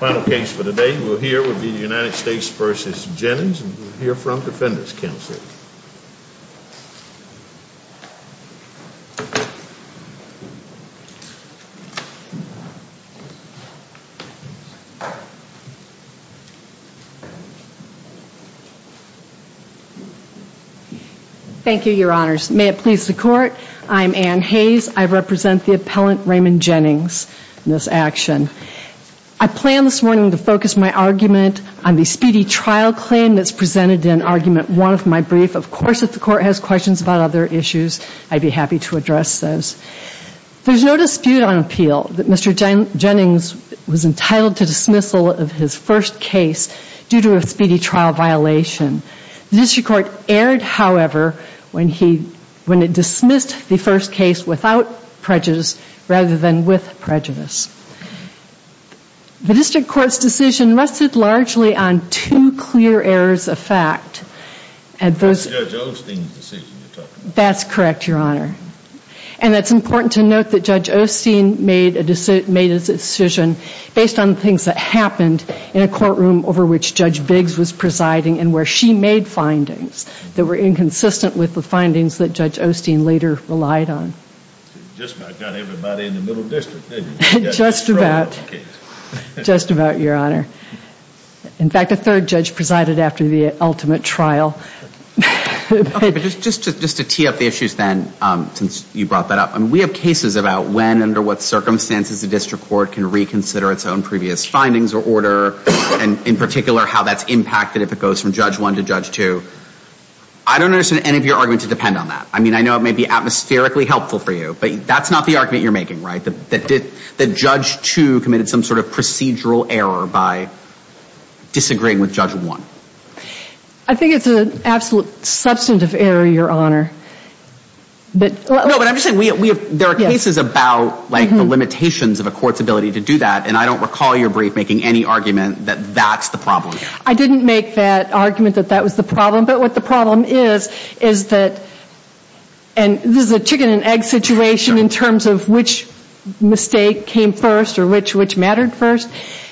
Final case for the day, we'll hear will be the United States v. Jennings and we'll hear from Defenders Counselor. Thank you, your honors. May it please the court. I'm Anne Hayes. I represent the appellant Raymond Jennings in this action. I plan this morning to focus my argument on the speedy trial claim that's presented in argument one of my brief. Of course, if the court has questions about other issues, I'd be happy to address those. There's no dispute on appeal that Mr. Jennings was entitled to dismissal of his first case due to a speedy trial violation. The district court erred, however, when it dismissed the first case without prejudice rather than with prejudice. The district court's decision rested largely on two clear errors of fact. That's Judge Osteen's decision. That's correct, your honor. And it's important to note that Judge Osteen made his decision based on things that happened in a courtroom over which Judge Biggs was presiding and where she made findings that were inconsistent with the findings that Judge Osteen later relied on. Just about got everybody in the middle district, didn't you? Just about. Just about, your honor. In fact, a third judge presided after the ultimate trial. Okay, but just to tee up the issues then, since you brought that up, we have cases about when and under what circumstances the district court can reconsider its own previous findings or order and in particular how that's impacted if it goes from Judge 1 to Judge 2. I don't understand any of your argument to depend on that. I mean, I know it may be atmospherically helpful for you, but that's not the argument you're making, right? That Judge 2 committed some sort of procedural error by disagreeing with Judge 1. I think it's an absolute substantive error, your honor. No, but I'm just saying there are cases about the limitations of a court's ability to do that, and I don't recall your brief making any argument that that's the problem. I didn't make that argument that that was the problem, but what the problem is, is that, and this is a chicken and egg situation in terms of which mistake came first or which mattered first,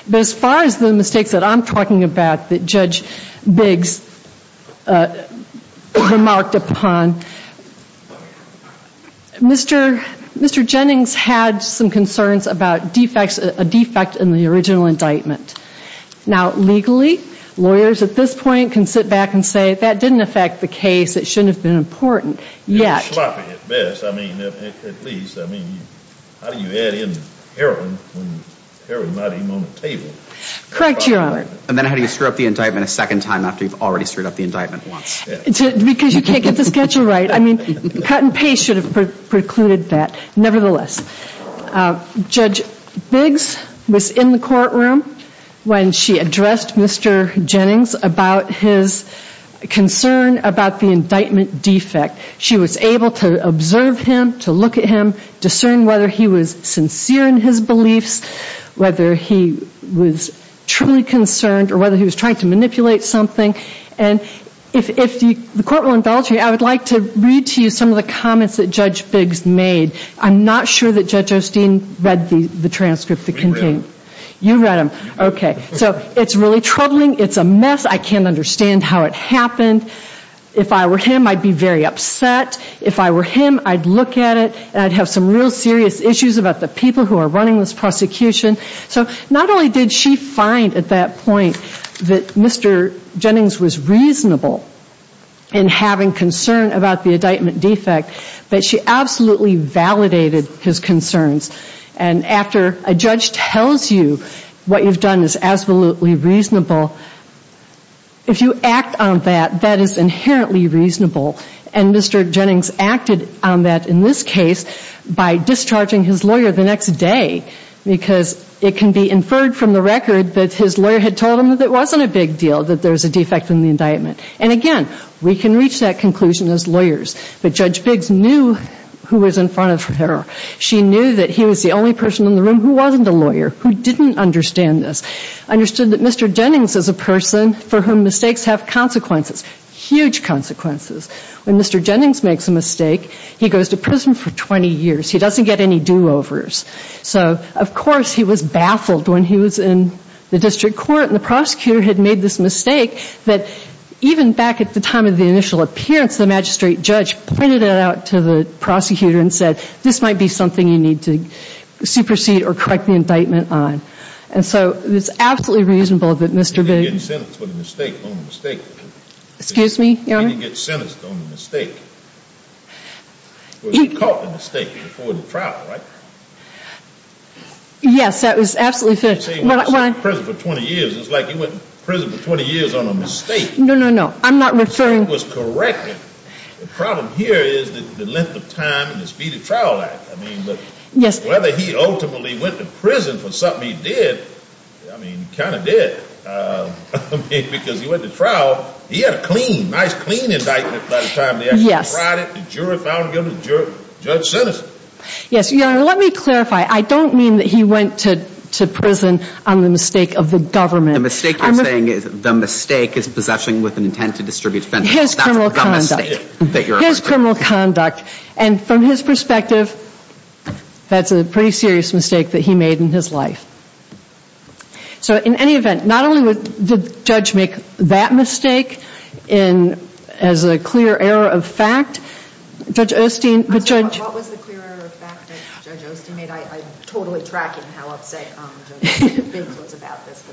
but as far as the mistakes that I'm talking about that Judge Biggs remarked upon, Mr. Jennings had some concerns about defects, a defect in the original indictment. Now, legally, lawyers at this point can sit back and say that didn't affect the case, it shouldn't have been important, yet. It was sloppy at best, I mean, at least. I mean, how do you add in heroin when heroin's not even on the table? Correct, your honor. And then how do you stir up the indictment a second time after you've already stirred up the indictment once? Because you can't get the schedule right. I mean, cut and paste should have precluded that. Nevertheless, Judge Biggs was in the courtroom when she addressed Mr. Jennings about his concern about the indictment defect. She was able to observe him, to look at him, discern whether he was sincere in his beliefs, whether he was truly concerned or whether he was trying to manipulate something, and if the court will indulge me, I would like to read to you some of the comments that Judge Biggs made. I'm not sure that Judge Osteen read the transcript that contained it. You read them, okay. So, it's really troubling, it's a mess, I can't understand how it happened. If I were him, I'd be very upset. If I were him, I'd look at it and I'd have some real serious issues about the people who are running this prosecution. So, not only did she find at that point that Mr. Jennings was reasonable in having concern about the indictment defect, but she absolutely validated his concerns. And after a judge tells you what you've done is absolutely reasonable, if you act on that, that is inherently reasonable. And Mr. Jennings acted on that in this case by discharging his lawyer the next day because it can be inferred from the record that his lawyer had told him that it wasn't a big deal, that there was a defect in the indictment. And again, we can reach that conclusion as lawyers, but Judge Biggs knew who was in front of her. She knew that he was the only person in the room who wasn't a lawyer, who didn't understand this, understood that Mr. Jennings is a person for whom mistakes have consequences, huge consequences. When Mr. Jennings makes a mistake, he goes to prison for 20 years, he doesn't get any do-overs. So, of course, he was baffled when he was in the district court and the prosecutor had made this mistake that even back at the time of the initial appearance, the magistrate judge pointed it out to the prosecutor and said, this might be something you need to supersede or correct the indictment on. And so, it's absolutely reasonable that Mr. Biggs... Yes, that was absolutely true. When I say he went to prison for 20 years, it's like he went to prison for 20 years on a mistake. No, no, no. I'm not referring... The mistake was corrected. The problem here is the length of time and the speed of trial act. I mean, whether he ultimately went to prison for something he did, I mean, he kind of did. I mean, because he went to trial, he had a clean, nice, clean indictment by the time they actually tried it. The jury found guilty, the judge sentenced him. Yes, Your Honor, let me clarify. I don't mean that he went to prison on the mistake of the government. The mistake you're saying is the mistake is possession with an intent to distribute... His criminal conduct. His criminal conduct. And from his perspective, that's a pretty serious mistake that he made in his life. So, in any event, not only did the judge make that mistake as a clear error of fact, Judge Osteen... What was the clear error of fact that Judge Osteen made? I'm totally tracking how upset Judge Osteen was about this.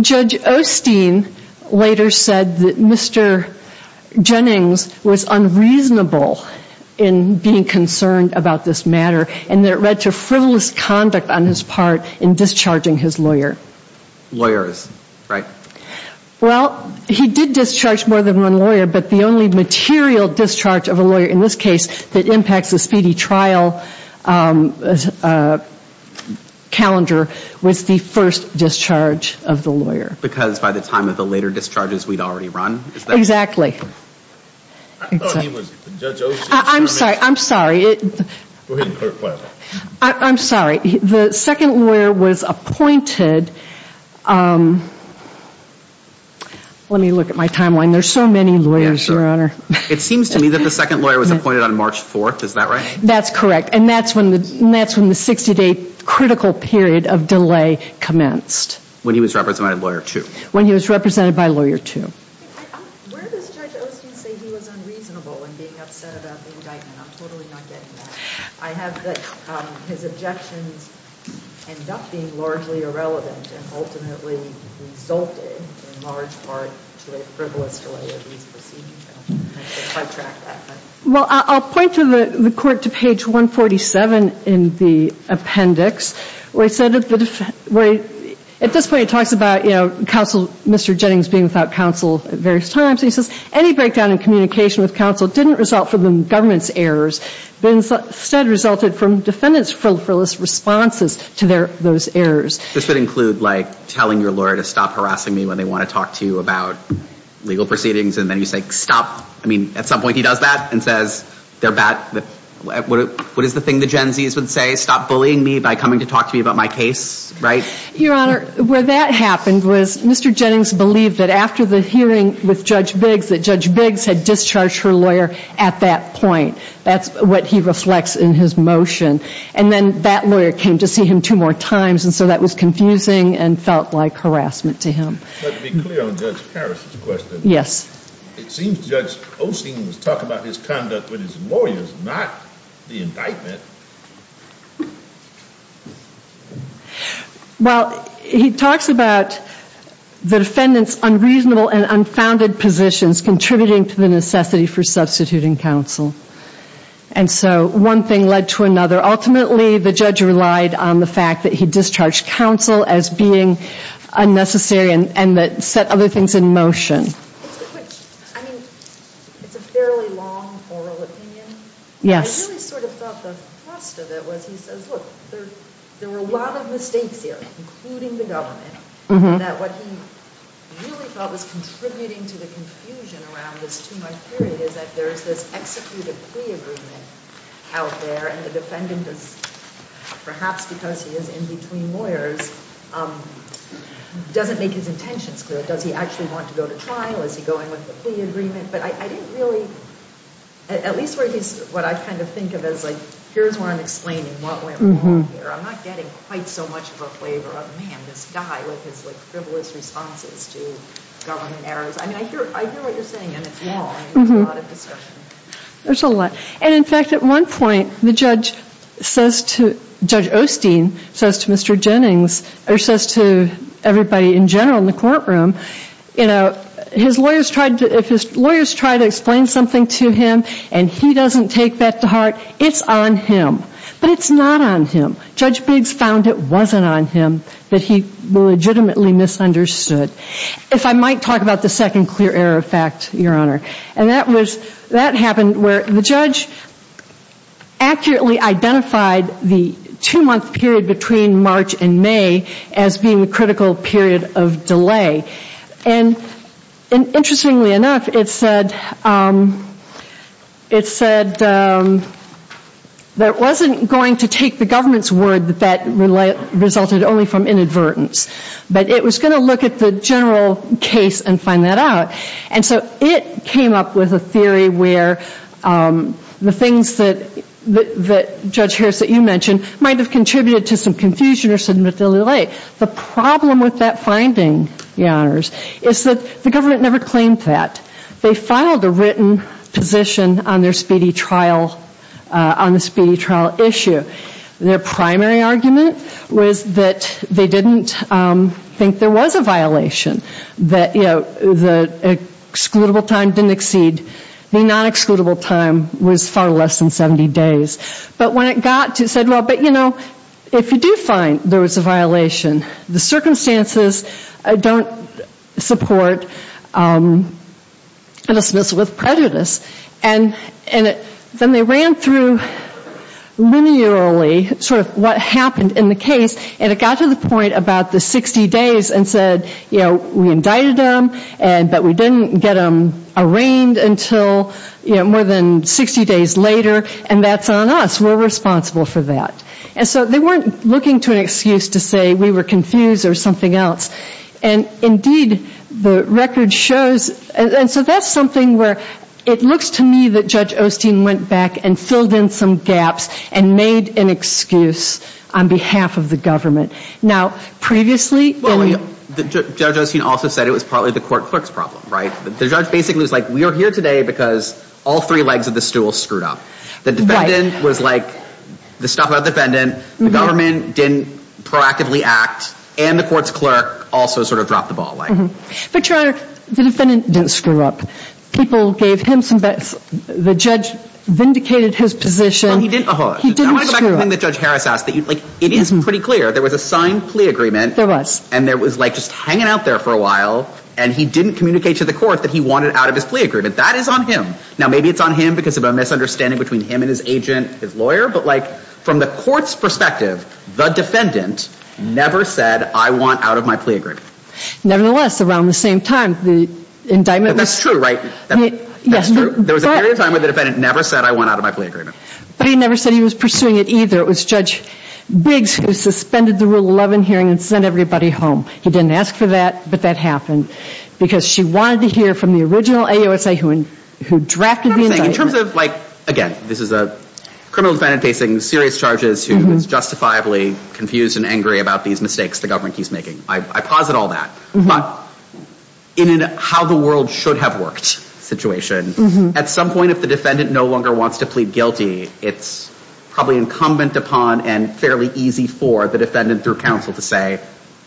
Judge Osteen later said that Mr. Jennings was unreasonable in being concerned about this matter and that it led to frivolous conduct on his part in discharging his lawyer. Lawyers, right? Well, he did discharge more than one lawyer, but the only material discharge of a lawyer in this case that impacts the speedy trial calendar was the first discharge of the lawyer. Because by the time of the later discharges, we'd already run? Exactly. I thought he was Judge Osteen. I'm sorry, I'm sorry. Go ahead and clear the question. I'm sorry. The second lawyer was appointed... Let me look at my timeline. There's so many lawyers, Your Honor. It seems to me that the second lawyer was appointed on March 4th. Is that right? That's correct. And that's when the 60-day critical period of delay commenced. When he was represented by Lawyer 2. When he was represented by Lawyer 2. Where does Judge Osteen say he was unreasonable in being upset about the indictment? I'm totally not getting that. I have that his objections end up being largely irrelevant and ultimately resulted in large part to a frivolous delay of these proceedings. I can't quite track that, but... Well, I'll point to the court to page 147 in the appendix where he said... At this point, he talks about counsel, Mr. Jennings being without counsel at various times. He says, any breakdown in communication with counsel didn't result from the government's errors but instead resulted from defendants' frivolous responses to those errors. This would include, like, telling your lawyer to stop harassing me when they want to talk to you about legal proceedings and then you say, stop. I mean, at some point he does that and says they're bad. What is the thing the Gen Zs would say? Stop bullying me by coming to talk to me about my case, right? Your Honor, where that happened was Mr. Jennings believed that after the hearing with Judge Biggs that Judge Biggs had discharged her lawyer at that point. That's what he reflects in his motion. And then that lawyer came to see him two more times, and so that was confusing and felt like harassment to him. But to be clear on Judge Harris's question... Yes. It seems Judge Osteen was talking about his conduct with his lawyers, not the indictment. Well, he talks about the defendant's unreasonable and unfounded positions contributing to the necessity for substituting counsel. And so one thing led to another. Ultimately, the judge relied on the fact that he discharged counsel as being unnecessary and that set other things in motion. I mean, it's a fairly long oral opinion. Yes. I really sort of thought the thrust of it was he says, look, there were a lot of mistakes here, including the government, and that what he really felt was contributing to the confusion around this two-month period is that there's this executed plea agreement out there, and the defendant is, perhaps because he is in between lawyers, doesn't make his intentions clear. Does he actually want to go to trial? Is he going with the plea agreement? But I didn't really, at least what I kind of think of as, like, here's where I'm explaining what went wrong here. I'm not getting quite so much of a flavor of, man, this guy with his, like, frivolous responses to government errors. I mean, I hear what you're saying, and it's wrong. There's a lot of discussion. There's a lot. And, in fact, at one point, the judge says to Mr. Jennings, or says to everybody in general in the courtroom, you know, if his lawyers try to explain something to him and he doesn't take that to heart, it's on him. But it's not on him. Judge Biggs found it wasn't on him, that he legitimately misunderstood. If I might talk about the second clear error effect, Your Honor, and that happened where the judge accurately identified the two-month period between March and May as being a critical period of delay. And, interestingly enough, it said that it wasn't going to take the government's word that that resulted only from inadvertence, but it was going to look at the general case and find that out. And so it came up with a theory where the things that Judge Harris, that you mentioned, might have contributed to some confusion or some delay. The problem with that finding, Your Honors, is that the government never claimed that. They filed a written position on their speedy trial issue. Their primary argument was that they didn't think there was a violation, that the excludable time didn't exceed. The non-excludable time was far less than 70 days. But when it got to, it said, well, but, you know, if you do find there was a violation, the circumstances don't support a dismissal with prejudice. And then they ran through linearly sort of what happened in the case, and it got to the point about the 60 days and said, you know, we indicted him, but we didn't get him arraigned until more than 60 days later, and that's on us. We're responsible for that. And so they weren't looking to an excuse to say we were confused or something else. And, indeed, the record shows, and so that's something where it looks to me that Judge Osteen went back and filled in some gaps and made an excuse on behalf of the government. Now, previously in the... Well, Judge Osteen also said it was partly the court clerk's problem, right? The judge basically was like, we are here today because all three legs of the stool screwed up. The defendant was like, the stuff about the defendant, the government didn't proactively act, and the court's clerk also sort of dropped the ball. But, Your Honor, the defendant didn't screw up. People gave him some bets. The judge vindicated his position. He didn't screw up. It is pretty clear. There was a signed plea agreement. There was. And there was, like, just hanging out there for a while, and he didn't communicate to the court that he wanted out of his plea agreement. That is on him. Now, maybe it's on him because of a misunderstanding between him and his agent, his lawyer, but, like, from the court's perspective, the defendant never said, I want out of my plea agreement. Nevertheless, around the same time, the indictment was... That's true, right? That's true. There was a period of time where the defendant never said, I want out of my plea agreement. But he never said he was pursuing it either. It was Judge Biggs who suspended the Rule 11 hearing and sent everybody home. He didn't ask for that, but that happened because she wanted to hear from the original AOSA who drafted the indictment. In terms of, like, again, this is a criminal defendant facing serious charges who is justifiably confused and angry about these mistakes the government keeps making. I posit all that. But in a how-the-world-should-have-worked situation, at some point if the defendant no longer wants to plead guilty, it's probably incumbent upon and fairly easy for the defendant through counsel to say,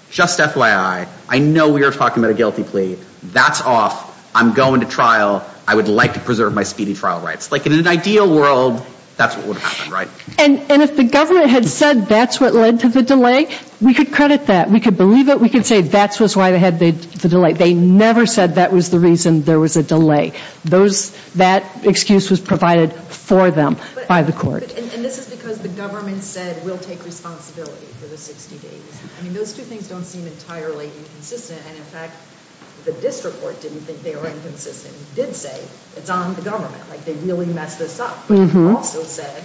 just FYI, I know we are talking about a guilty plea. That's off. I'm going to trial. I would like to preserve my speeding trial rights. Like, in an ideal world, that's what would have happened, right? And if the government had said that's what led to the delay, we could credit that. We could believe it. We could say that's why they had the delay. They never said that was the reason there was a delay. That excuse was provided for them by the court. And this is because the government said we'll take responsibility for the 60 days. I mean, those two things don't seem entirely consistent. And, in fact, the district court didn't think they were inconsistent. It did say it's on the government. Like, they really messed this up. They also said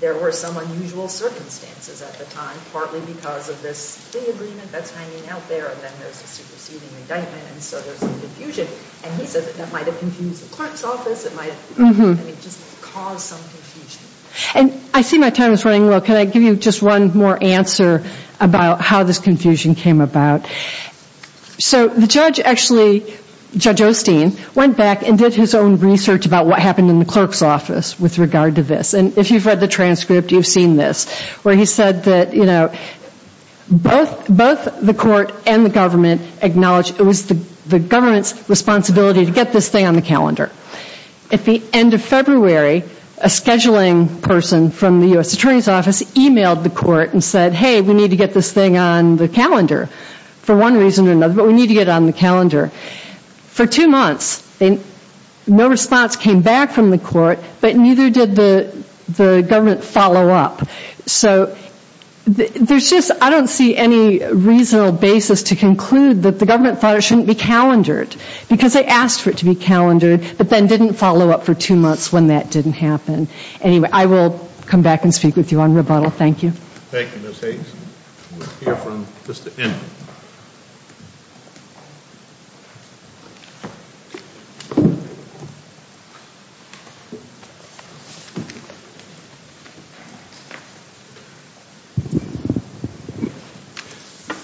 there were some unusual circumstances at the time, partly because of this plea agreement that's hanging out there and then there's a superseding indictment and so there's confusion. And he said that might have confused the clerk's office. It might have just caused some confusion. And I see my time is running low. Can I give you just one more answer about how this confusion came about? So the judge actually, Judge Osteen, went back and did his own research about what happened in the clerk's office with regard to this. And if you've read the transcript, you've seen this, where he said that, you know, both the court and the government acknowledge it was the government's responsibility to get this thing on the calendar. At the end of February, a scheduling person from the U.S. Attorney's Office emailed the court and said, hey, we need to get this thing on the calendar for one reason or another, but we need to get it on the calendar. For two months, no response came back from the court, but neither did the government follow up. So there's just, I don't see any reasonable basis to conclude that the government thought it shouldn't be calendared, because they asked for it to be calendared, but then didn't follow up for two months when that didn't happen. Anyway, I will come back and speak with you on rebuttal. Thank you. Thank you, Ms. Hayes. We'll hear from Mr. Inman.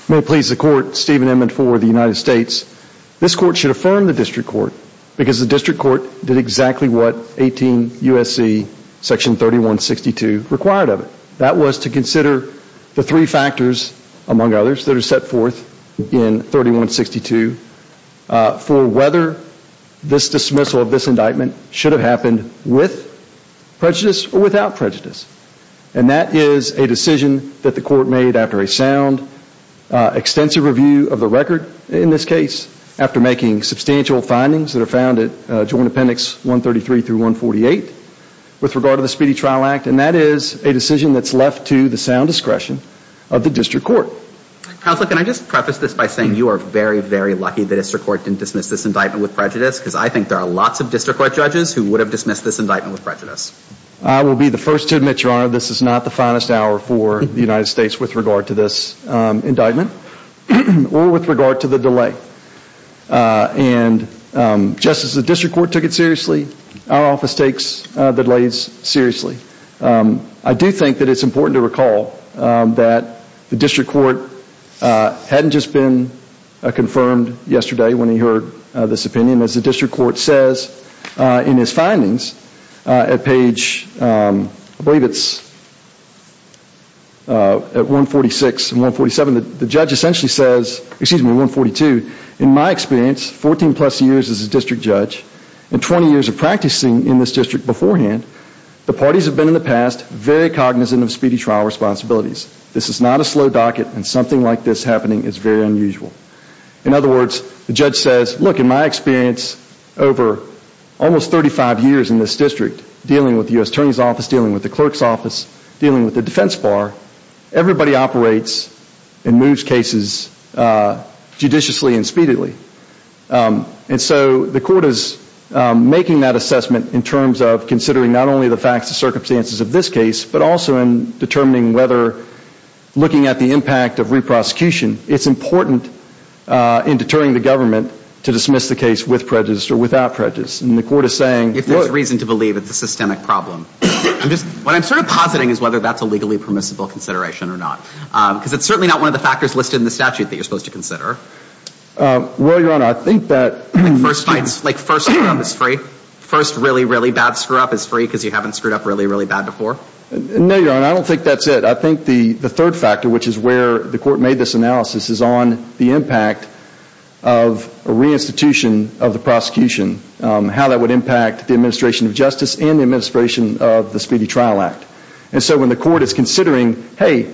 May it please the Court, Stephen Inman for the United States. This Court should affirm the District Court because the District Court did exactly what 18 U.S.C. section 3162 required of it. That was to consider the three factors, among others, that are set forth in 3162 for whether this dismissal of this indictment should have happened with prejudice or without prejudice. And that is a decision that the Court made after a sound, extensive review of the record, in this case, after making substantial findings that are found at Joint Appendix 133-148 with regard to the Speedy Trial Act. And that is a decision that's left to the sound discretion of the District Court. Counsel, can I just preface this by saying you are very, very lucky the District Court didn't dismiss this indictment with prejudice because I think there are lots of District Court judges who would have dismissed this indictment with prejudice. I will be the first to admit, Your Honor, this is not the finest hour for the United States with regard to this indictment or with regard to the delay. And just as the District Court took it seriously, our office takes delays seriously. I do think that it's important to recall that the District Court hadn't just been confirmed yesterday when he heard this opinion. As the District Court says in his findings, at page, I believe it's 146 and 147, the judge essentially says, excuse me, 142, in my experience, 14 plus years as a District Judge and 20 years of practicing in this district beforehand, the parties have been in the past very cognizant of speedy trial responsibilities. This is not a slow docket and something like this happening is very unusual. In other words, the judge says, look, in my experience over almost 35 years in this district, dealing with the U.S. Attorney's Office, dealing with the Clerk's Office, dealing with the defense bar, everybody operates and moves cases judiciously and speedily. And so the court is making that assessment in terms of considering not only the facts and circumstances of this case, but also in determining whether looking at the impact of re-prosecution, it's important in deterring the government to dismiss the case with prejudice or without prejudice. And the court is saying... If there's reason to believe it's a systemic problem. What I'm sort of positing is whether that's a legally permissible consideration or not. Because it's certainly not one of the factors listed in the statute that you're supposed to consider. Well, Your Honor, I think that... Like first screw up is free? First really, really bad screw up is free because you haven't screwed up really, really bad before? No, Your Honor, I don't think that's it. I think the third factor, which is where the court made this analysis, is on the impact of a re-institution of the prosecution. How that would impact the administration of justice and the administration of the Speedy Trial Act. And so when the court is considering, hey,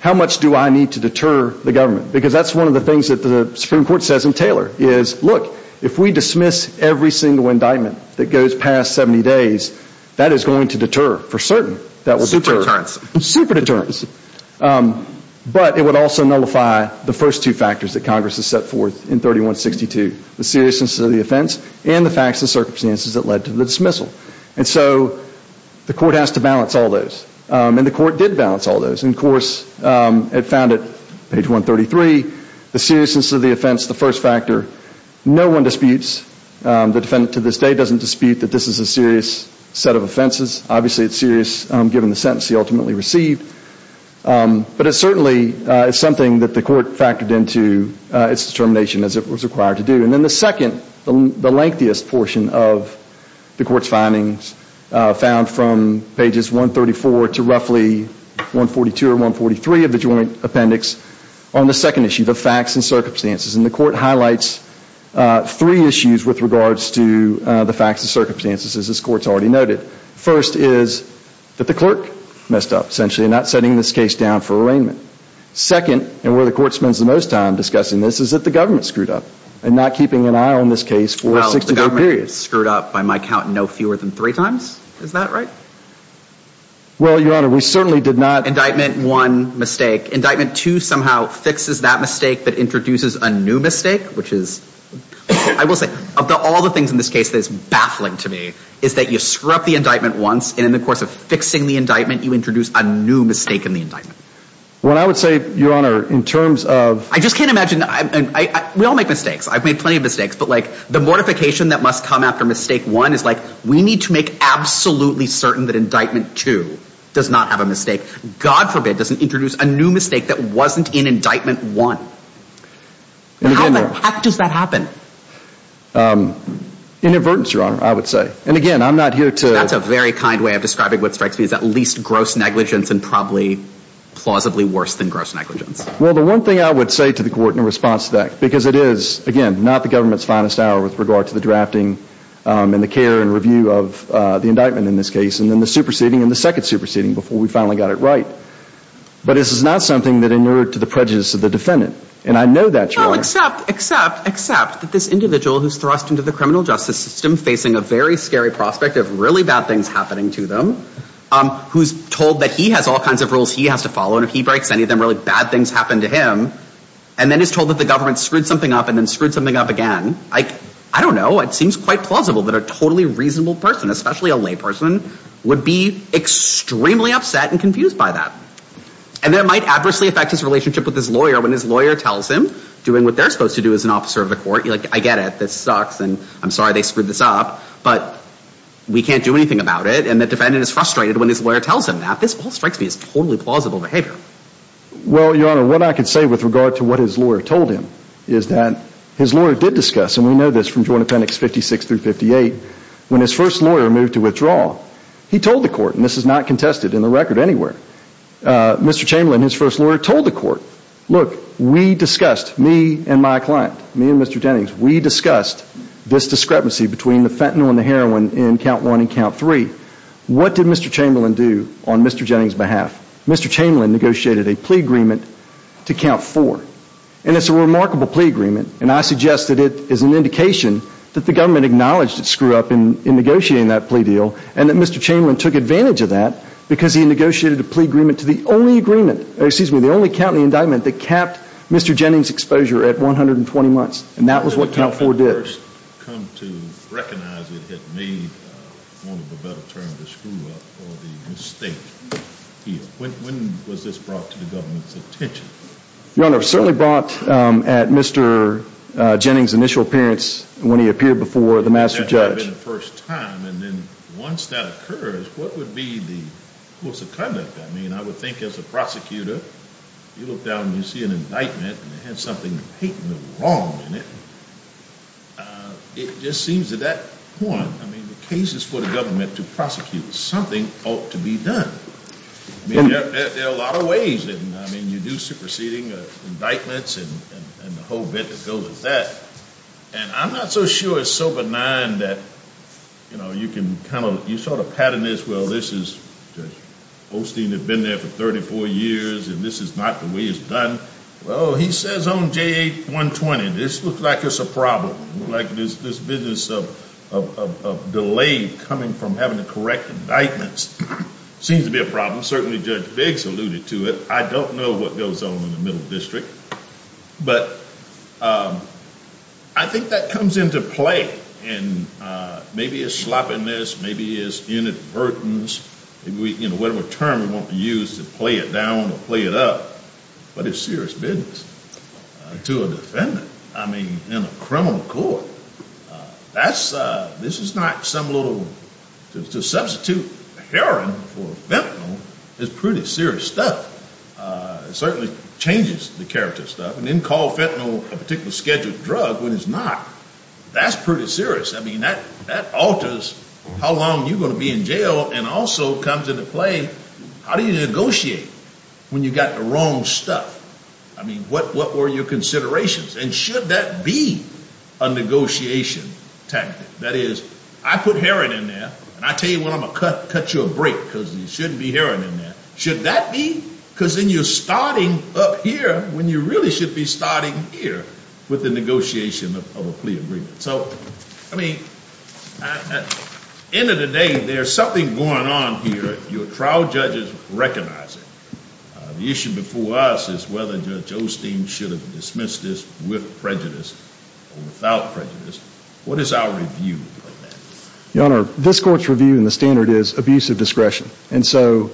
how much do I need to deter the government? Because that's one of the things that the Supreme Court says in Taylor is, look, if we dismiss every single indictment that goes past 70 days, that is going to deter for certain. Super deterrence. Super deterrence. But it would also nullify the first two factors that Congress has set forth in 3162, the seriousness of the offense and the facts and circumstances that led to the dismissal. And so the court has to balance all those. And the court did balance all those. And, of course, it found at page 133, the seriousness of the offense, the first factor, no one disputes. The defendant to this day doesn't dispute that this is a serious set of offenses. Obviously it's serious given the sentence he ultimately received. But it certainly is something that the court factored into its determination as it was required to do. And then the second, the lengthiest portion of the court's findings, found from pages 134 to roughly 142 or 143 of the joint appendix, on the second issue, the facts and circumstances. And the court highlights three issues with regards to the facts and circumstances, as this court's already noted. First is that the clerk messed up, essentially, in not setting this case down for arraignment. Second, and where the court spends the most time discussing this, is that the government screwed up in not keeping an eye on this case for a 60-day period. Well, the government screwed up, by my count, no fewer than three times. Is that right? Well, Your Honor, we certainly did not— Indictment one, mistake. Indictment two somehow fixes that mistake but introduces a new mistake, which is— I will say, of all the things in this case that is baffling to me, is that you screw up the indictment once, and in the course of fixing the indictment, you introduce a new mistake in the indictment. Well, I would say, Your Honor, in terms of— I just can't imagine—we all make mistakes. I've made plenty of mistakes. But, like, the mortification that must come after mistake one is, like, we need to make absolutely certain that indictment two does not have a mistake. God forbid it doesn't introduce a new mistake that wasn't in indictment one. How the heck does that happen? Inadvertence, Your Honor, I would say. And, again, I'm not here to— That's a very kind way of describing what strikes me as at least gross negligence and probably plausibly worse than gross negligence. Well, the one thing I would say to the court in response to that, because it is, again, not the government's finest hour with regard to the drafting and the care and review of the indictment in this case, and then the superseding and the second superseding before we finally got it right. But this is not something that inured to the prejudice of the defendant. And I know that, Your Honor. No, except that this individual who's thrust into the criminal justice system facing a very scary prospect of really bad things happening to them, who's told that he has all kinds of rules he has to follow, and if he breaks any of them, really bad things happen to him. And then he's told that the government screwed something up and then screwed something up again. I don't know. It seems quite plausible that a totally reasonable person, especially a layperson, would be extremely upset and confused by that. And that might adversely affect his relationship with his lawyer when his lawyer tells him, doing what they're supposed to do as an officer of the court, like, I get it, this sucks, and I'm sorry they screwed this up, but we can't do anything about it. And the defendant is frustrated when his lawyer tells him that. This all strikes me as totally plausible behavior. Well, Your Honor, what I can say with regard to what his lawyer told him is that his lawyer did discuss, and we know this from Jordan Appendix 56 through 58, when his first lawyer moved to withdraw, he told the court, and this is not contested in the record anywhere, Mr. Chamberlain, his first lawyer, told the court, look, we discussed, me and my client, me and Mr. Jennings, we discussed this discrepancy between the fentanyl and the heroin in Count 1 and Count 3. What did Mr. Chamberlain do on Mr. Jennings' behalf? Mr. Chamberlain negotiated a plea agreement to Count 4. And it's a remarkable plea agreement, and I suggest that it is an indication that the government acknowledged it screwed up in negotiating that plea deal and that Mr. Chamberlain took advantage of that because he negotiated a plea agreement to the only agreement, excuse me, the only county indictment that capped Mr. Jennings' exposure at 120 months. And that was what Count 4 did. When did you first come to recognize it had made one of the better terms to screw up or the mistake here? When was this brought to the government's attention? Your Honor, it was certainly brought at Mr. Jennings' initial appearance when he appeared before the master judge. And that had been the first time, and then once that occurs, what would be the course of conduct? I mean, I would think as a prosecutor, you look down and you see an indictment and it had something patently wrong in it. It just seems at that point, I mean, the cases for the government to prosecute something ought to be done. I mean, there are a lot of ways, and I mean, you do superseding indictments and the whole bit that goes with that. And I'm not so sure it's so benign that, you know, you can kind of, you sort of pattern this, well, this is, Judge Holstein had been there for 34 years and this is not the way it's done. Well, he says on J8-120, this looks like it's a problem, like this business of delay coming from having to correct indictments seems to be a problem. Certainly Judge Biggs alluded to it. I don't know what goes on in the Middle District. But I think that comes into play, and maybe it's sloppiness, maybe it's inadvertence, whatever term you want to use to play it down or play it up. But it's serious business. To a defendant, I mean, in a criminal court, that's, this is not some little, to substitute heroin for fentanyl is pretty serious stuff. It certainly changes the character of stuff. You didn't call fentanyl a particularly scheduled drug when it's not. That's pretty serious. I mean, that alters how long you're going to be in jail and also comes into play, how do you negotiate when you've got the wrong stuff? I mean, what were your considerations? And should that be a negotiation tactic? That is, I put heroin in there, and I tell you what, I'm going to cut you a break because there shouldn't be heroin in there. Should that be? Because then you're starting up here when you really should be starting here with the negotiation of a plea agreement. So, I mean, at the end of the day, there's something going on here. Your trial judges recognize it. The issue before us is whether Judge Osteen should have dismissed this with prejudice or without prejudice. What is our review of that? Your Honor, this court's review and the standard is abuse of discretion. And so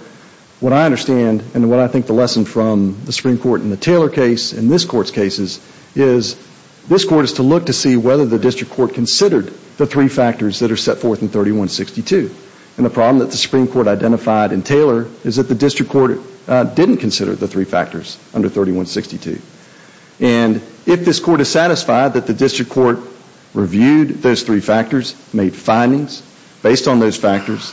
what I understand and what I think the lesson from the Supreme Court in the Taylor case and this court's cases is this court is to look to see whether the district court considered the three factors that are set forth in 3162. And the problem that the Supreme Court identified in Taylor is that the district court didn't consider the three factors under 3162. And if this court is satisfied that the district court reviewed those three factors, made findings based on those factors,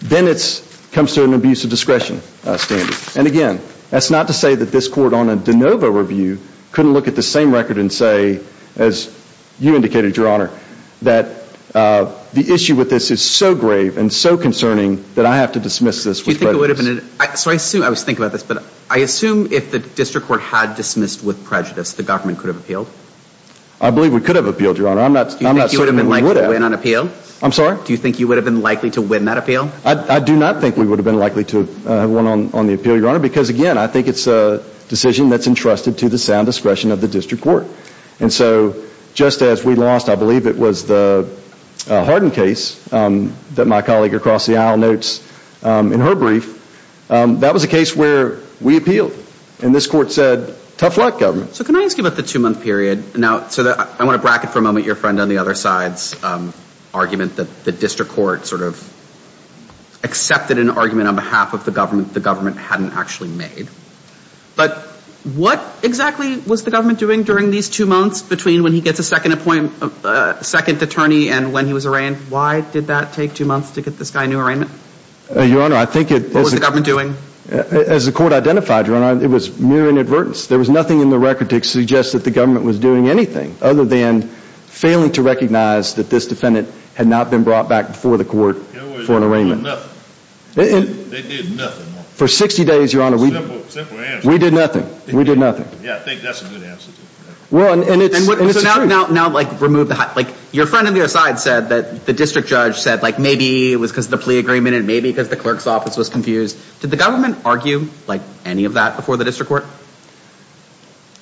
then it comes to an abuse of discretion standard. And again, that's not to say that this court on a de novo review couldn't look at the same record and say, as you indicated, Your Honor, that the issue with this is so grave and so concerning that I have to dismiss this with prejudice. So I assume, I was thinking about this, but I assume if the district court had dismissed with prejudice, the government could have appealed? I believe we could have appealed, Your Honor. Do you think you would have been likely to win on appeal? I'm sorry? Do you think you would have been likely to win that appeal? I do not think we would have been likely to have won on the appeal, Your Honor, because again, I think it's a decision that's entrusted to the sound discretion of the district court. And so just as we lost, I believe it was the Hardin case that my colleague across the aisle notes in her brief, that was a case where we appealed. And this court said, tough luck, government. So can I ask you about the two-month period? Now, I want to bracket for a moment your friend on the other side's argument that the district court sort of accepted an argument on behalf of the government the government hadn't actually made. But what exactly was the government doing during these two months between when he gets a second attorney and when he was arraigned? Why did that take two months to get this guy a new arraignment? Your Honor, I think it... What was the government doing? As the court identified, Your Honor, it was mere inadvertence. There was nothing in the record to suggest that the government was doing anything other than failing to recognize that this defendant had not been brought back before the court for an arraignment. They did nothing. For 60 days, Your Honor, we... Simple answer. We did nothing. We did nothing. Yeah, I think that's a good answer. Well, and it's... So now, like, remove the... Like, your friend on the other side said that the district judge said, like, maybe it was because of the plea agreement and maybe because the clerk's office was confused. Did the government argue, like, any of that before the district court?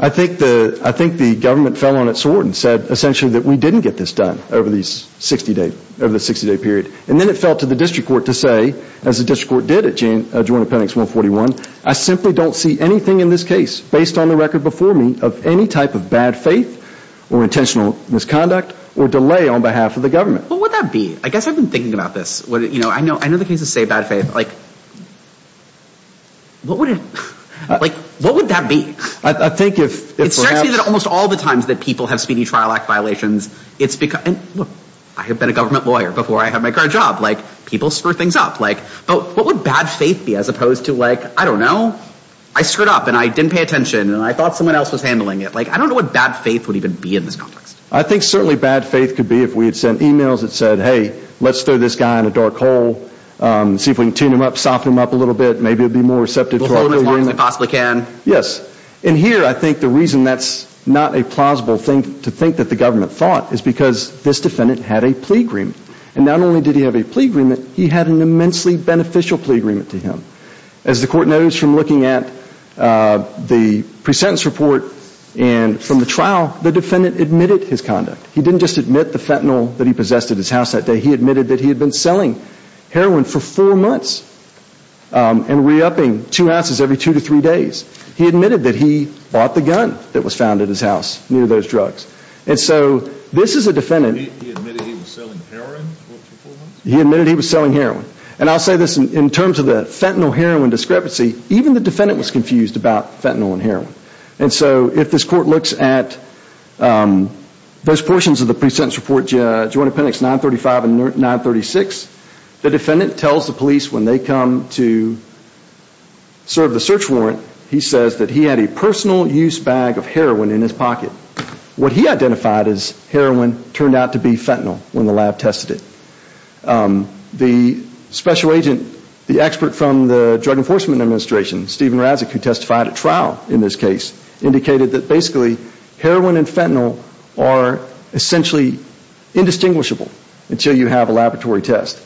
I think the government fell on its sword and said essentially that we didn't get this done over the 60-day period. And then it fell to the district court to say, as the district court did at Joint Appendix 141, I simply don't see anything in this case based on the record before me of any type of bad faith or intentional misconduct or delay on behalf of the government. What would that be? I guess I've been thinking about this. You know, I know the cases say bad faith. Like, what would it... Like, what would that be? I think if perhaps... It strikes me that almost all the times that people have speedy trial act violations, it's because... I mean, look, I have been a government lawyer before I had my current job. Like, people screw things up. But what would bad faith be as opposed to, like, I don't know, I screwed up and I didn't pay attention and I thought someone else was handling it. Like, I don't know what bad faith would even be in this context. I think certainly bad faith could be if we had sent e-mails that said, hey, let's throw this guy in a dark hole, see if we can tune him up, soften him up a little bit, maybe he'll be more receptive to our... We'll hold him as long as we possibly can. Yes. And here I think the reason that's not a plausible thing to think that the government thought is because this defendant had a plea agreement. And not only did he have a plea agreement, he had an immensely beneficial plea agreement to him. As the court knows from looking at the pre-sentence report and from the trial, the defendant admitted his conduct. He didn't just admit the fentanyl that he possessed at his house that day. He admitted that he had been selling heroin for four months and re-upping two ounces every two to three days. He admitted that he bought the gun that was found at his house near those drugs. And so this is a defendant... He admitted he was selling heroin for four months? He admitted he was selling heroin. And I'll say this, in terms of the fentanyl-heroin discrepancy, even the defendant was confused about fentanyl and heroin. And so if this court looks at those portions of the pre-sentence report, Joint Appendix 935 and 936, the defendant tells the police when they come to serve the search warrant, he says that he had a personal use bag of heroin in his pocket. What he identified as heroin turned out to be fentanyl when the lab tested it. The special agent, the expert from the Drug Enforcement Administration, Steven Razek, who testified at trial in this case, indicated that basically heroin and fentanyl are essentially indistinguishable until you have a laboratory test.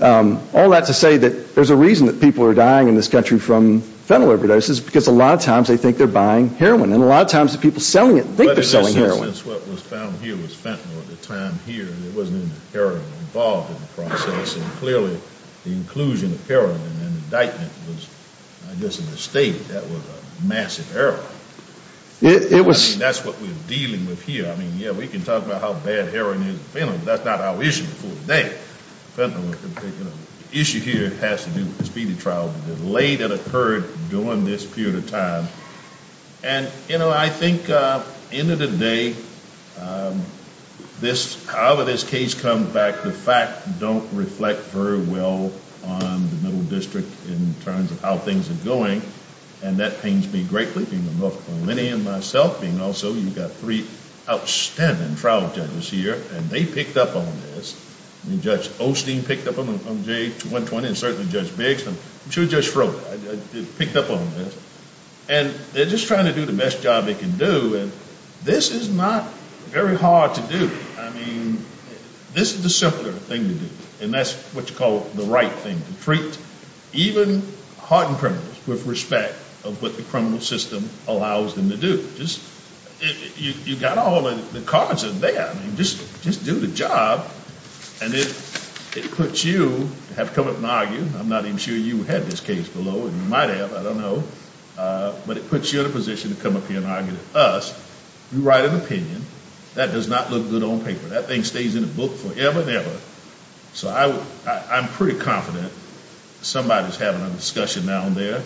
All that to say that there's a reason that people are dying in this country from fentanyl overdoses, because a lot of times they think they're buying heroin. And a lot of times the people selling it think they're selling heroin. But in essence, what was found here was fentanyl at the time here. There wasn't any heroin involved in the process. And clearly the inclusion of heroin in the indictment was, I guess, a mistake. That was a massive error. I mean, that's what we're dealing with here. I mean, yeah, we can talk about how bad heroin is in fentanyl, but that's not our issue today. The issue here has to do with the speedy trial, the delay that occurred during this period of time. And, you know, I think at the end of the day, however this case comes back, the facts don't reflect very well on the Middle District in terms of how things are going. And that pains me greatly, being a North Carolinian myself, being also you've got three outstanding trial judges here, and they picked up on this. I mean, Judge Osteen picked up on J120 and certainly Judge Biggs. I'm sure Judge Froh picked up on this. And they're just trying to do the best job they can do. And this is not very hard to do. I mean, this is the simpler thing to do. And that's what you call the right thing, to treat even hardened criminals with respect of what the criminal system allows them to do. You've got all the cards in there. I mean, just do the job. And it puts you to have to come up and argue. I'm not even sure you had this case below. You might have. I don't know. But it puts you in a position to come up here and argue with us. You write an opinion. That does not look good on paper. That thing stays in the book forever and ever. So I'm pretty confident somebody's having a discussion down there.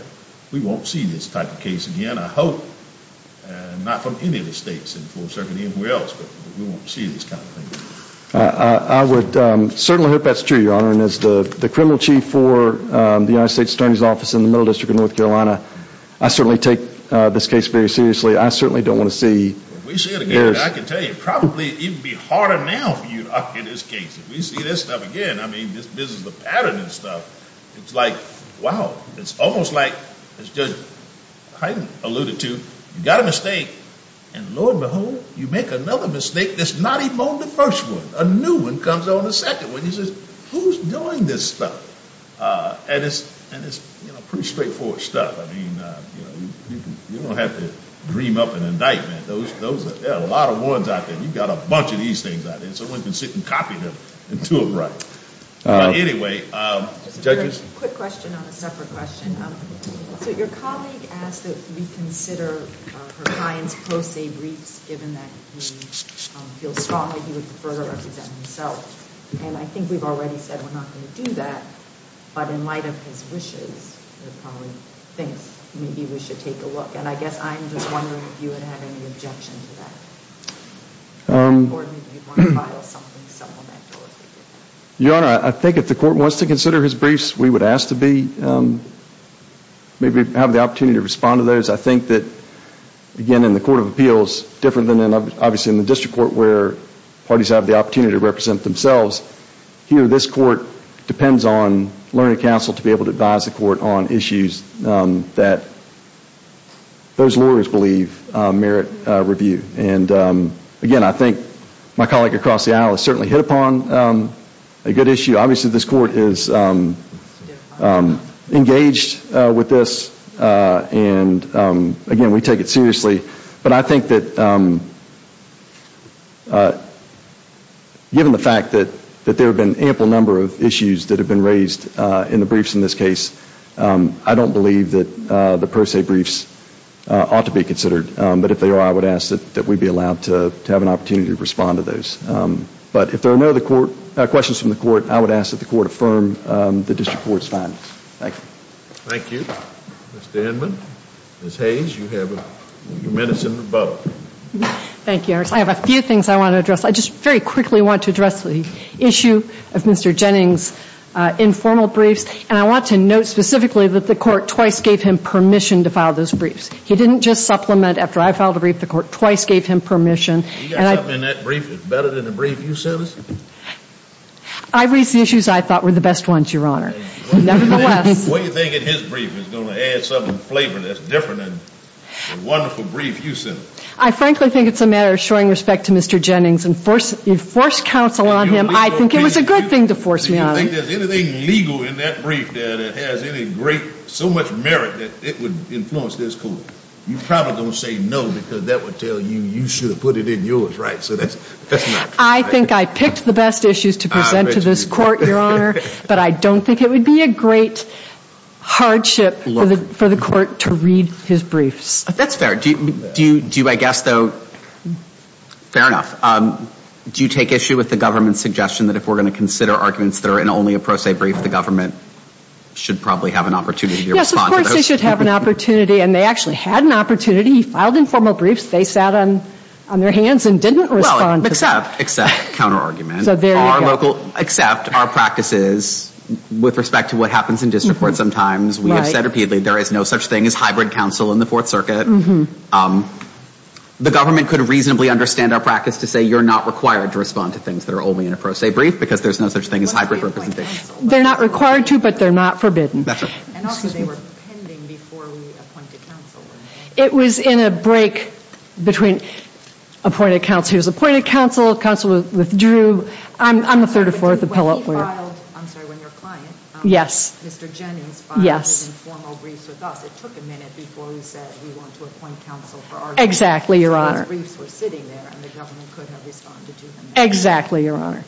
We won't see this type of case again, I hope, not from any of the states and for certain anywhere else. But we won't see this kind of thing. I would certainly hope that's true, Your Honor. And as the criminal chief for the United States Attorney's Office in the Middle District of North Carolina, I certainly take this case very seriously. I certainly don't want to see this. I can tell you, probably it would be harder now for you to argue this case. If we see this stuff again, I mean, this is the pattern and stuff. It's like, wow, it's almost like, as Judge Hyden alluded to, you've got a mistake. And lo and behold, you make another mistake that's not even on the first one. A new one comes on the second one. He says, who's doing this stuff? And it's pretty straightforward stuff. I mean, you don't have to dream up an indictment. There are a lot of ones out there. You've got a bunch of these things out there. Someone can sit and copy them and do it right. Anyway, judges? Just a quick question on a separate question. So your colleague asked that we consider her client's post-date briefs, given that he feels strongly he would prefer to represent himself. And I think we've already said we're not going to do that. But in light of his wishes, your colleague thinks maybe we should take a look. And I guess I'm just wondering if you would have any objection to that. Or maybe you'd want to file something supplemental. Your Honor, I think if the Court wants to consider his briefs, we would ask to be, maybe have the opportunity to respond to those. I think that, again, in the Court of Appeals, different than obviously in the District Court, where parties have the opportunity to represent themselves, here this Court depends on learning counsel to be able to advise the Court on issues that those lawyers believe merit review. And, again, I think my colleague across the aisle has certainly hit upon a good issue. Obviously this Court is engaged with this. And, again, we take it seriously. But I think that given the fact that there have been an ample number of issues that have been raised in the briefs in this case, I don't believe that the pro se briefs ought to be considered. But if they are, I would ask that we be allowed to have an opportunity to respond to those. But if there are no other questions from the Court, I would ask that the Court affirm the District Court's findings. Thank you. Thank you. Ms. Denman. Ms. Hayes, you have your minutes in the bubble. Thank you, Your Honor. I have a few things I want to address. I just very quickly want to address the issue of Mr. Jennings' informal briefs. And I want to note specifically that the Court twice gave him permission to file those briefs. He didn't just supplement after I filed a brief. The Court twice gave him permission. You got something in that brief that's better than the brief you sent us? I raised the issues I thought were the best ones, Your Honor. Nevertheless. What do you think in his brief is going to add some flavor that's different than the wonderful brief you sent us? I frankly think it's a matter of showing respect to Mr. Jennings and forced counsel on him. I think it was a good thing to force me on him. Do you think there's anything legal in that brief there that has any great so much merit that it would influence this Court? You're probably going to say no because that would tell you you should have put it in yours, right? So that's not true. I think I picked the best issues to present to this Court, Your Honor. But I don't think it would be a great hardship for the Court to read his briefs. That's fair. Do you, I guess though, fair enough. Do you take issue with the government's suggestion that if we're going to consider arguments that are in only a pro se brief, the government should probably have an opportunity to respond to those? Yes, of course they should have an opportunity. And they actually had an opportunity. He filed informal briefs. They sat on their hands and didn't respond. Well, except counterargument. So there you go. We will accept our practices with respect to what happens in district courts sometimes. We have said repeatedly there is no such thing as hybrid counsel in the Fourth Circuit. The government could reasonably understand our practice to say you're not required to respond to things that are only in a pro se brief because there's no such thing as hybrid representation. They're not required to, but they're not forbidden. And also they were pending before we appointed counsel. It was in a break between appointed counsel. He was appointed counsel. Counsel withdrew. I'm the third or fourth appellate. When he filed, I'm sorry, when your client, Mr. Jennings, filed his informal briefs with us, it took a minute before he said we want to appoint counsel for argument. Exactly, Your Honor. So those briefs were sitting there and the government couldn't have responded to them. Exactly, Your Honor.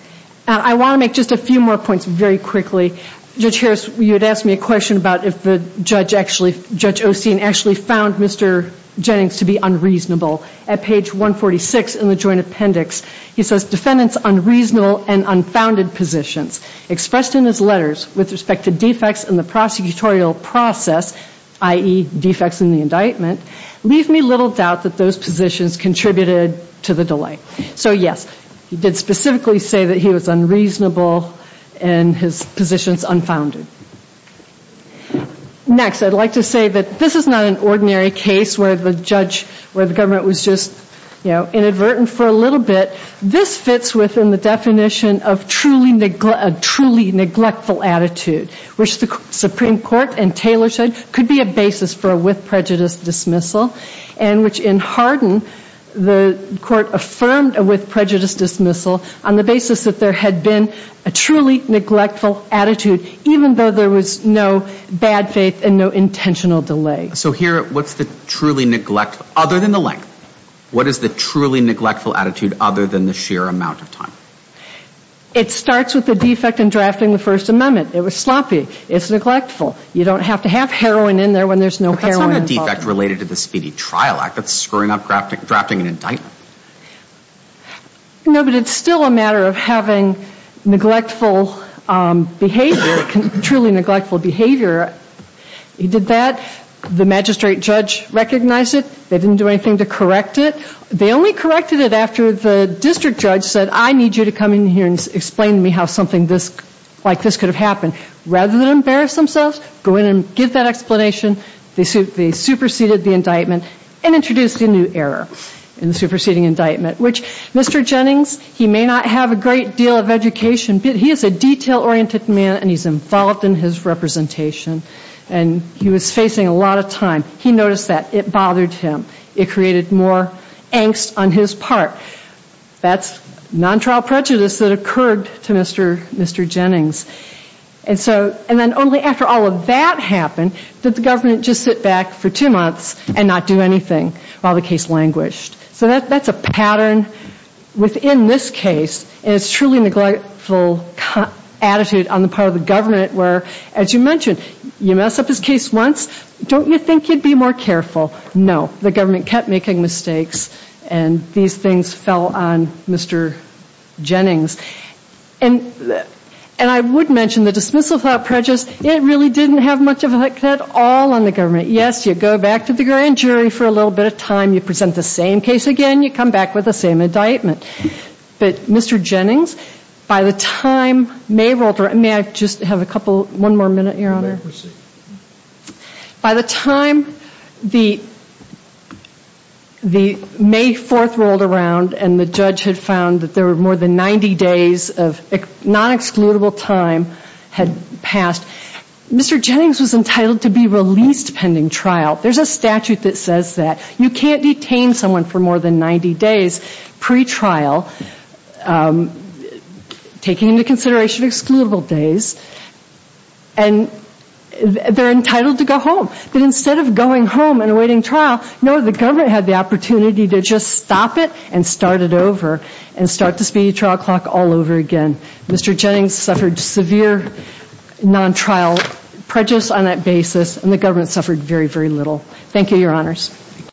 I want to make just a few more points very quickly. Judge Harris, you had asked me a question about if Judge Osteen actually found Mr. Jennings to be unreasonable. At page 146 in the joint appendix, he says defendants' unreasonable and unfounded positions expressed in his letters with respect to defects in the prosecutorial process, i.e., defects in the indictment, leave me little doubt that those positions contributed to the delay. So, yes, he did specifically say that he was unreasonable and his positions unfounded. Next, I'd like to say that this is not an ordinary case where the government was just inadvertent for a little bit. This fits within the definition of a truly neglectful attitude, which the Supreme Court and Taylor said could be a basis for a with prejudice dismissal, and which in Hardin the court affirmed a with prejudice dismissal on the basis that there had been a truly neglectful attitude, even though there was no bad faith and no intentional delay. So here, what's the truly neglectful, other than the length, what is the truly neglectful attitude other than the sheer amount of time? It starts with the defect in drafting the First Amendment. It was sloppy. It's neglectful. You don't have to have heroin in there when there's no heroin involved. That's not a defect related to the Speedy Trial Act. That's screwing up drafting an indictment. No, but it's still a matter of having neglectful behavior, truly neglectful behavior. He did that. The magistrate judge recognized it. They didn't do anything to correct it. They only corrected it after the district judge said, I need you to come in here and explain to me how something like this could have happened. Rather than embarrass themselves, go in and give that explanation. They superseded the indictment and introduced a new error in the superseding indictment, which Mr. Jennings, he may not have a great deal of education, but he is a detail-oriented man and he's involved in his representation. And he was facing a lot of time. He noticed that. It bothered him. It created more angst on his part. That's non-trial prejudice that occurred to Mr. Jennings. And then only after all of that happened did the government just sit back for two months and not do anything while the case languished. So that's a pattern within this case. And it's truly neglectful attitude on the part of the government where, as you mentioned, you mess up his case once, don't you think you'd be more careful? No. The government kept making mistakes and these things fell on Mr. Jennings. And I would mention the dismissal of prejudice, it really didn't have much of an effect at all on the government. Yes, you go back to the grand jury for a little bit of time. You present the same case again. You come back with the same indictment. But Mr. Jennings, by the time May rolled around, may I just have a couple, one more minute, Your Honor? Please proceed. By the time the May 4th rolled around and the judge had found that there were more than 90 days of non-excludable time had passed, Mr. Jennings was entitled to be released pending trial. There's a statute that says that you can't detain someone for more than 90 days pre-trial, taking into consideration excludable days. And they're entitled to go home. But instead of going home and awaiting trial, no, the government had the opportunity to just stop it and start it over and start the speedy trial clock all over again. Mr. Jennings suffered severe non-trial prejudice on that basis and the government suffered very, very little. Thank you, Your Honors.